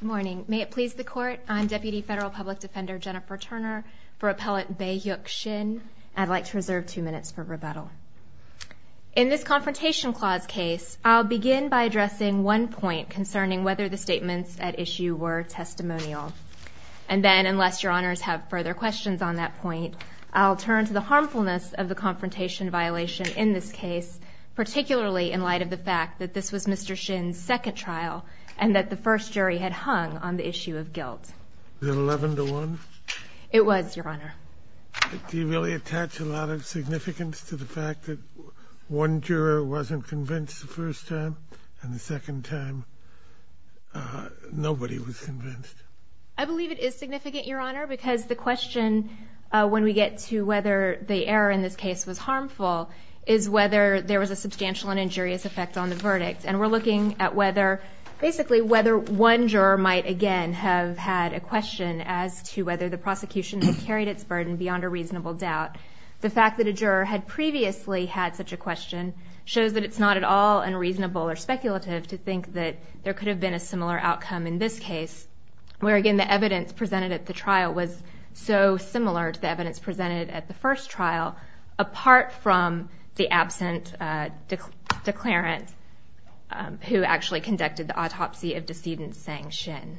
May it please the Court, I'm Deputy Federal Public Defender Jennifer Turner for Appellant Bae Hyuk Shin. I'd like to reserve two minutes for rebuttal. In this Confrontation Clause case, I'll begin by addressing one point concerning whether the statements at issue were testimonial. And then, unless Your Honors have further questions on that point, I'll turn to the harmfulness of the confrontation violation in this case, particularly in light of the fact that this was Mr. Shin's second trial and that the first jury had hung on the issue of guilt. Is it 11 to 1? It was, Your Honor. Do you really attach a lot of significance to the fact that one juror wasn't convinced the first time and the second time nobody was convinced? I believe it is significant, Your Honor, because the question when we get to whether the error in this case was harmful is whether there was a substantial and injurious effect on the verdict. And we're looking at whether, basically, whether one juror might again have had a question as to whether the prosecution had carried its burden beyond a reasonable doubt. The fact that a juror had previously had such a question shows that it's not at all unreasonable or speculative to think that there could have been a similar outcome in this case, where, again, the evidence presented at the trial was so similar to the evidence presented at the first trial, apart from the absent declarant who actually conducted the autopsy of decedent Sang Shin.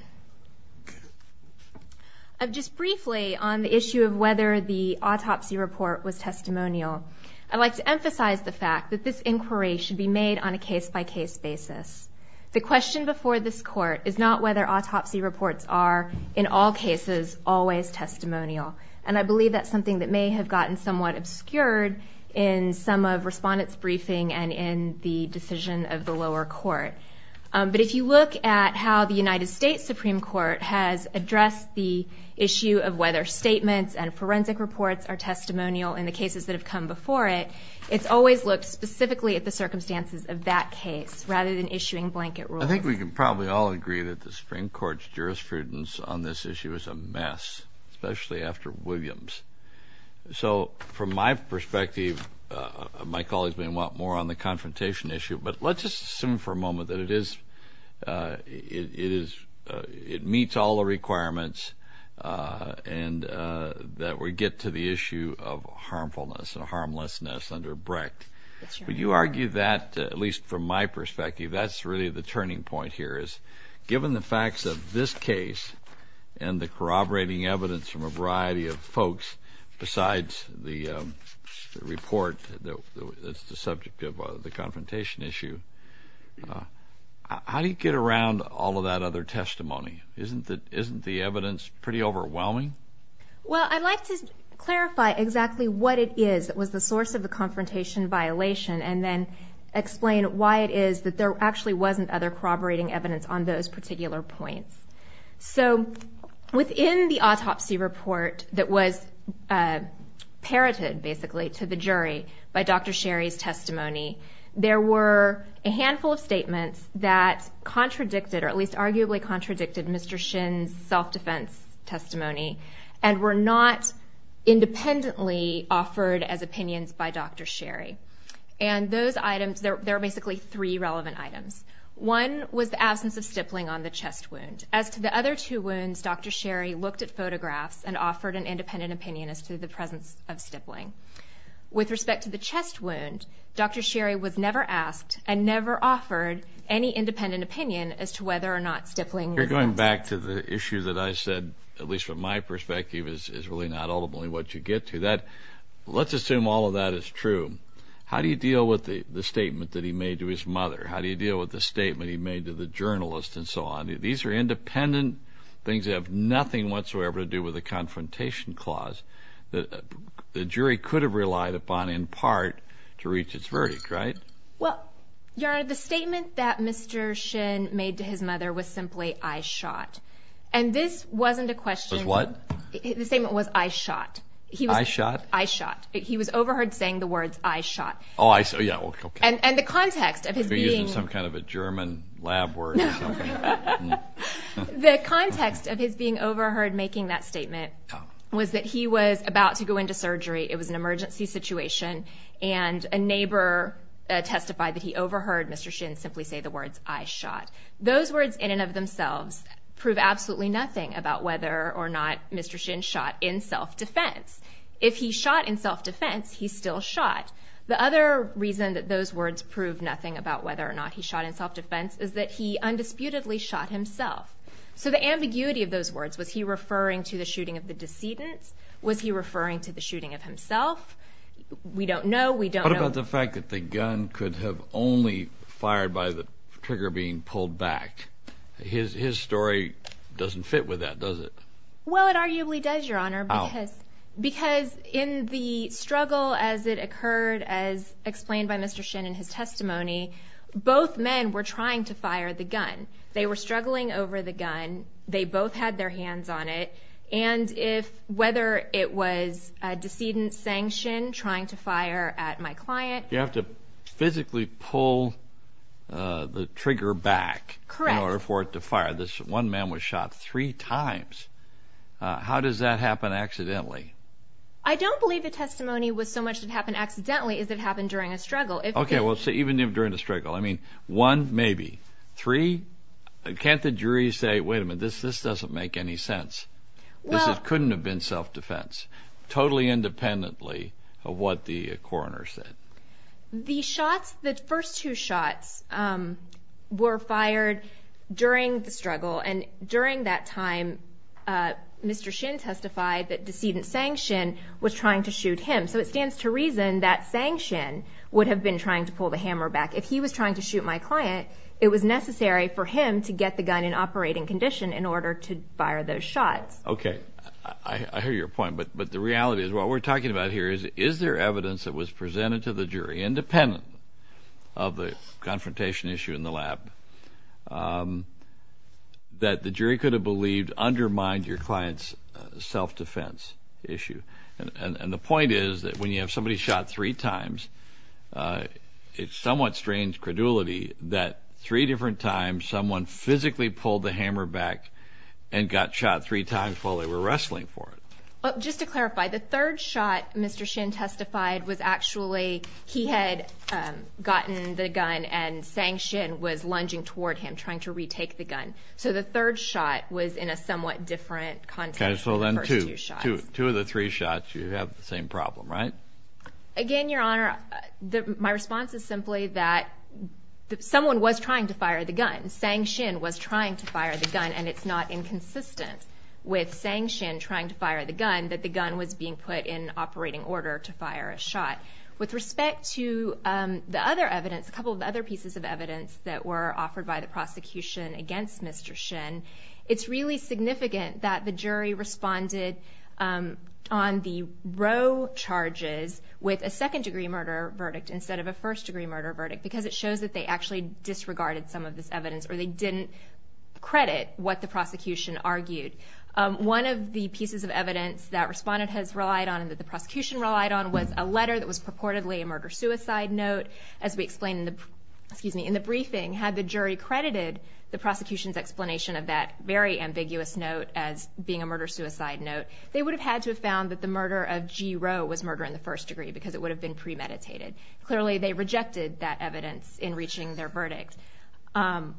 Just briefly on the issue of whether the autopsy report was testimonial, I'd like to emphasize the fact that this inquiry should be made on a case-by-case basis. The question before this Court is not whether autopsy reports are, in all cases, always testimonial. And I believe that's something that may have gotten somewhat obscured in some of Respondent's I think we can probably all agree that the Supreme Court's jurisprudence on this issue is a mess, especially after Williams. So, from my perspective, my colleagues may want more on the confrontation issue, but let's just assume for a moment that it is, it is it meets all the requirements and that we get to the issue of harmfulness and harmlessness under Brecht. Would you argue that, at least from my perspective, that's really the turning point here, is given the facts of this case and the corroborating evidence from a variety of folks besides the report that's the subject of the confrontation issue, how do you get around all of that other testimony? Isn't the evidence pretty overwhelming? Well, I'd like to clarify exactly what it is that was the source of the confrontation violation and then explain why it is that there actually wasn't other corroborating evidence on those particular points. So, within the autopsy report that was parroted, basically, to the jury by Dr. Sherry's testimony, there were a handful of statements that contradicted, or at least arguably contradicted, Mr. Shin's self-defense testimony and were not independently offered as opinions by Dr. Sherry. And those items, there are basically three relevant items. One was the absence of stippling on the chest wound. As to the other two wounds, Dr. Sherry looked at photographs and offered an independent opinion as to the presence of stippling. With respect to the chest wound, Dr. Sherry was never asked and never offered any independent opinion as to whether or not stippling was absent. You're going back to the issue that I said, at least from my perspective, is really not ultimately what you get to. Let's assume all of that is true. How do you deal with the statement that he made to his mother? How do you deal with the statement he made to the journalist and so on? These are independent things that have nothing whatsoever to do with a confrontation clause that the jury could have relied upon, in part, to reach its verdict, right? Well, Your Honor, the statement that Mr. Shin made to his mother was simply, I shot. And this wasn't a question of... Was what? The statement was, I shot. I shot? I shot. He was overheard saying the words, I shot. Oh, I shot. Yeah, okay. And the context of his being... You're using some kind of a German lab word or something. The context of his being overheard making that statement was that he was about to go into surgery, it was an emergency situation, and a neighbor testified that he overheard Mr. Shin simply say the words, I shot. Those words in and of themselves prove absolutely nothing about whether or not Mr. Shin shot in self-defense. If he shot in self-defense, he still shot. The other reason that those words prove nothing about whether or not he disputedly shot himself. So the ambiguity of those words, was he referring to the shooting of the decedent? Was he referring to the shooting of himself? We don't know, we don't know... What about the fact that the gun could have only fired by the trigger being pulled back? His story doesn't fit with that, does it? Well, it arguably does, Your Honor, because in the struggle as it occurred, as explained by Mr. Shin in his testimony, both men were trying to fire the gun. They were struggling over the gun, they both had their hands on it, and if, whether it was a decedent saying Shin trying to fire at my client... You have to physically pull the trigger back in order for it to fire. This one man was shot three times. How does that happen accidentally? I don't believe the testimony was so much that it happened accidentally as it happened during a struggle. Okay, well, so even if during a struggle. I mean, one, maybe. Three? Can't the jury say, wait a minute, this doesn't make any sense? This couldn't have been self-defense, totally independently of what the coroner said. The shots, the first two shots, were fired during the struggle, and during that time, Mr. Shin testified that decedent saying Shin was trying to shoot him. So it stands to reason that saying Shin would have been trying to pull the hammer back. If he was trying to shoot my client, it was necessary for him to get the gun in operating condition in order to fire those shots. Okay, I hear your point, but the reality is, what we're talking about here is, is there evidence that was presented to the jury, independent of the confrontation issue in the lab, that the jury could have believed undermined your client's self-defense issue? And the point is that when you have somebody shot three times, it's somewhat strange credulity that three different times, someone physically pulled the hammer back and got shot three times while they were wrestling for it. Just to clarify, the third shot Mr. Shin testified was actually, he had gotten the gun and saying Shin was lunging toward him, trying to retake the gun. So the third shot was in a somewhat different context. Okay, so then two of the three shots, you have the same problem, right? Again, Your Honor, my response is simply that someone was trying to fire the gun. Saying Shin was trying to fire the gun, and it's not inconsistent with saying Shin trying to fire the gun, that the gun was being put in operating order to fire a shot. With respect to the other evidence, a couple of other pieces of evidence that were offered by the prosecution against Mr. Shin, it's really significant that the jury responded on the row charges with a second-degree murder verdict instead of a first-degree murder verdict because it shows that they actually disregarded some of this evidence or they didn't credit what the prosecution argued. One of the pieces of evidence that responded has relied on and that the prosecution relied on was a letter that was purportedly a murder-suicide note. As we explained in the briefing, had the jury credited the prosecution's explanation of that very ambiguous note as being a murder-suicide note, they would have had to have found that the murder of G. Rowe was murder in the first degree because it would have been premeditated. Clearly, they rejected that evidence in reaching their verdict.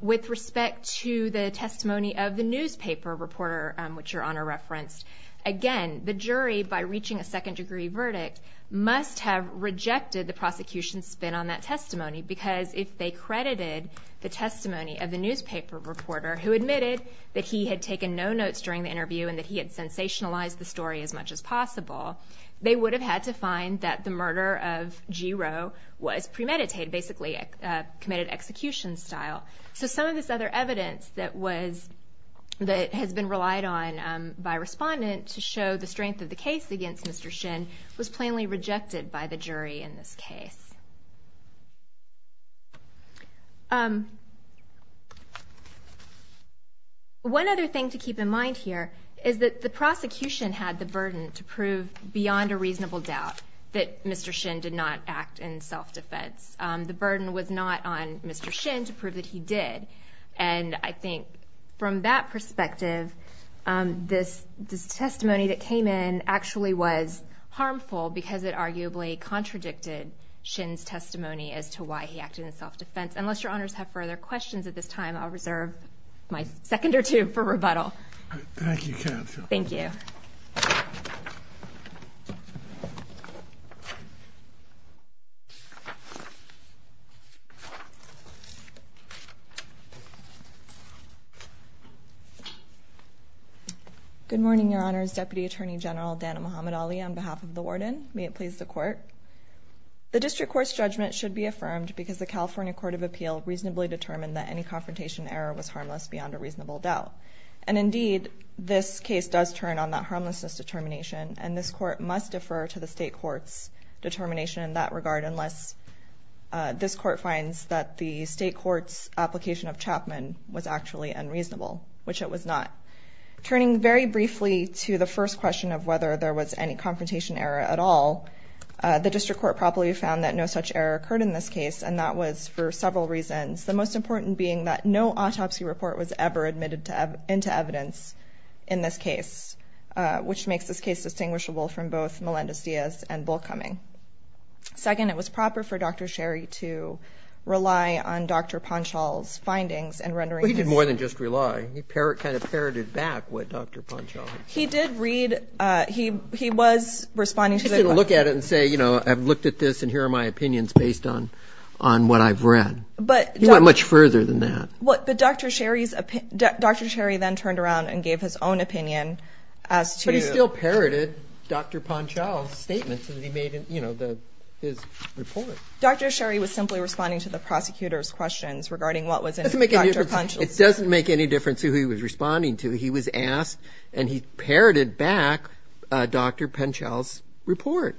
With respect to the testimony of the newspaper reporter, which Your Honor referenced, again, the jury, by reaching a second-degree verdict, must have rejected the prosecution's spin on that testimony because if they credited the testimony of the newspaper reporter who admitted that he had taken no notes during the interview and that he had sensationalized the story as much as possible, they would have had to find that the murder of G. Rowe was premeditated, basically a committed execution style. So some of this other evidence that has been relied on by respondent to show the strength of the case against Mr. Shin was plainly rejected by the jury in this case. One other thing to keep in mind here is that the prosecution had the burden to prove beyond a reasonable doubt that Mr. Shin did not act in self-defense. The burden was not on Mr. Shin to prove that he did. And I think from that perspective, this testimony that came in actually was harmful because it arguably contradicted Shin's testimony as to why he acted in self-defense. Unless Your Honors have further questions at this time, I'll reserve my second or two for rebuttal. Thank you, Counsel. Thank you. Good morning, Your Honors. Deputy Attorney General Dana Muhammad-Ali on behalf of the Warden. May it please the Court. The District Court's judgment should be affirmed because the California Court of Appeal reasonably determined that any confrontation error was harmless beyond a reasonable doubt. And indeed, this case does turn on that harmlessness determination, and this Court must defer to the State Court's determination in that regard unless this Court finds that the State Court's application of Chapman was actually unreasonable, which it was not. Turning very briefly to the first question of whether there was any confrontation error at all, the District Court properly found that no such error occurred in this case, and that was for several reasons, the most important being that no autopsy report was ever admitted into evidence in this case, which makes this case distinguishable from both Melendez-Diaz and Bullcumming. Second, it was proper for Dr. Sherry to rely on Dr. Ponchall's findings in rendering his Well, he didn't more than just rely. He kind of parroted back what Dr. Ponchall had said. He did read, he was responding to the He didn't look at it and say, you know, I've looked at this and here are my opinions based on what I've read. He went much further than that. But Dr. Sherry then turned around and gave his own opinion as to But he still parroted Dr. Ponchall's statements that he made in his report. Dr. Sherry was simply responding to the prosecutor's questions regarding what was in Dr. Ponchall's It doesn't make any difference who he was responding to. He was asked and he parroted back Dr. Ponchall's report.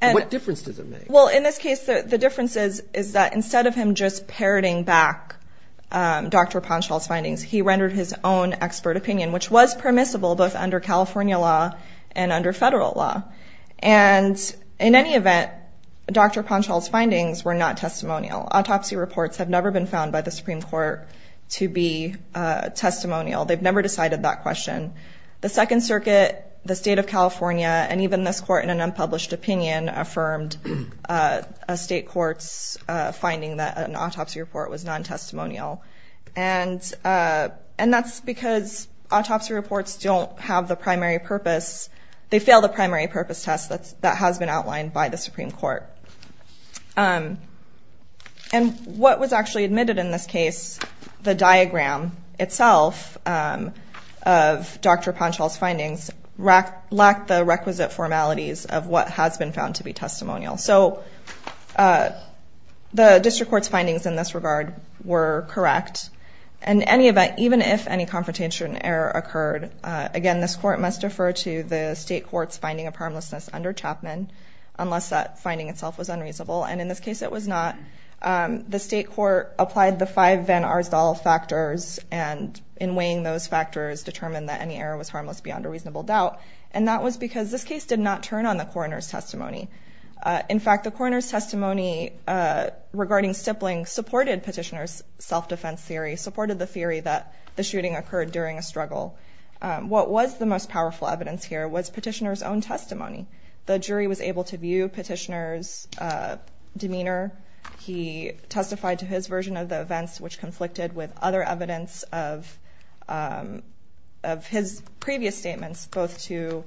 What difference does it make? In this case, the difference is that instead of him just parroting back Dr. Ponchall's findings, he rendered his own expert opinion, which was permissible both under California law and under federal law. And in any event, Dr. Ponchall's findings were not testimonial. Autopsy reports have never been found by the Supreme Court to be testimonial. They've never decided that question. The Second Circuit, the state of California, and even this court in an unpublished opinion, affirmed a state court's finding that an autopsy report was non-testimonial. And that's because autopsy reports don't have the primary purpose. They fail the primary purpose test that has been outlined by the Supreme Court. And what was actually admitted in this case, the diagram itself of Dr. Ponchall's findings, lacked the requisite formalities of what has been found to be testimonial. So the district court's findings in this regard were correct. In any event, even if any confrontation error occurred, again, this court must defer to the state court's finding of harmlessness under Chapman, unless that finding itself was unreasonable. And in this case, it was not. The state court applied the five Van Arsdale factors, and in weighing those factors, determined that any error was harmless beyond a reasonable doubt. And that was because this case did not turn on the coroner's testimony. In fact, the coroner's testimony regarding stippling supported Petitioner's self-defense theory, supported the theory that the shooting occurred during a struggle. What was the most powerful evidence here was Petitioner's own testimony. The jury was able to view Petitioner's demeanor. He testified to his version of the of his previous statements, both to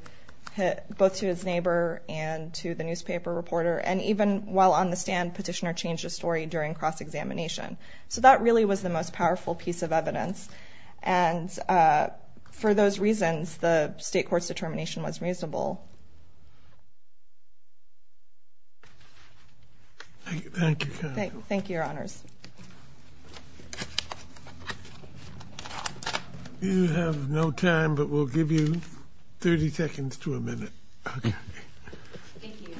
his neighbor and to the newspaper reporter, and even while on the stand, Petitioner changed his story during cross-examination. So that really was the most powerful piece of evidence. And for those reasons, the state court's determination was reasonable. Thank you. Thank you, your honors. You have no time, but we'll give you 30 seconds to a minute. Okay. Thank you.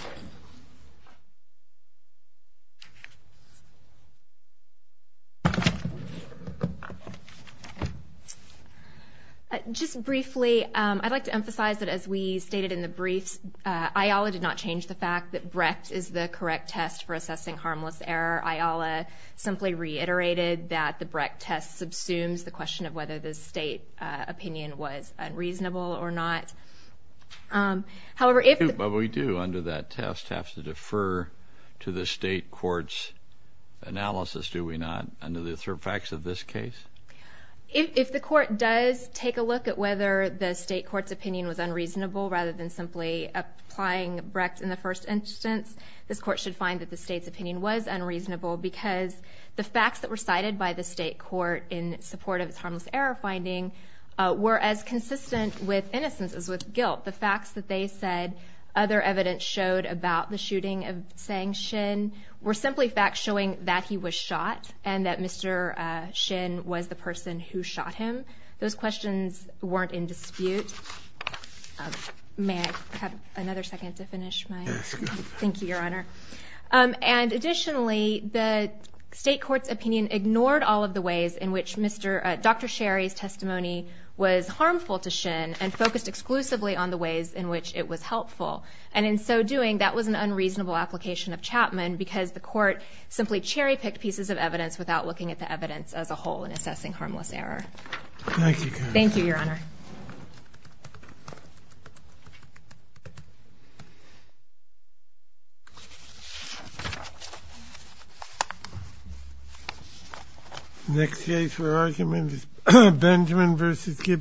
Just briefly, I'd like to emphasize that as we stated in the briefs, Ayala did not change the fact that Brecht is the correct test for assessing harmless error. Ayala simply reiterated that the Brecht test subsumes the question of whether the state opinion was unreasonable or not. However, if... But we do, under that test, have to defer to the state court's analysis, do we not, under the facts of this case? If the court does take a look at whether the state court's opinion was unreasonable, rather than simply applying Brecht in the first instance, this court should find that the state's because the facts that were cited by the state court in support of its harmless error finding were as consistent with innocence as with guilt. The facts that they said other evidence showed about the shooting of Tseng Shin were simply facts showing that he was shot and that Mr. Shin was the person who shot him. Those questions weren't in dispute. May I have another second to finish my... Yes, go ahead. Thank you, your honor. And additionally, the state court's opinion ignored all of the ways in which Dr. Sherry's testimony was harmful to Shin and focused exclusively on the ways in which it was helpful. And in so doing, that was an unreasonable application of Chapman because the court simply cherry-picked pieces of evidence without looking at the evidence as a whole in assessing harmless error. Thank you. Thank you, your honor. Thank you. Next case for argument is Benjamin v. Gibson.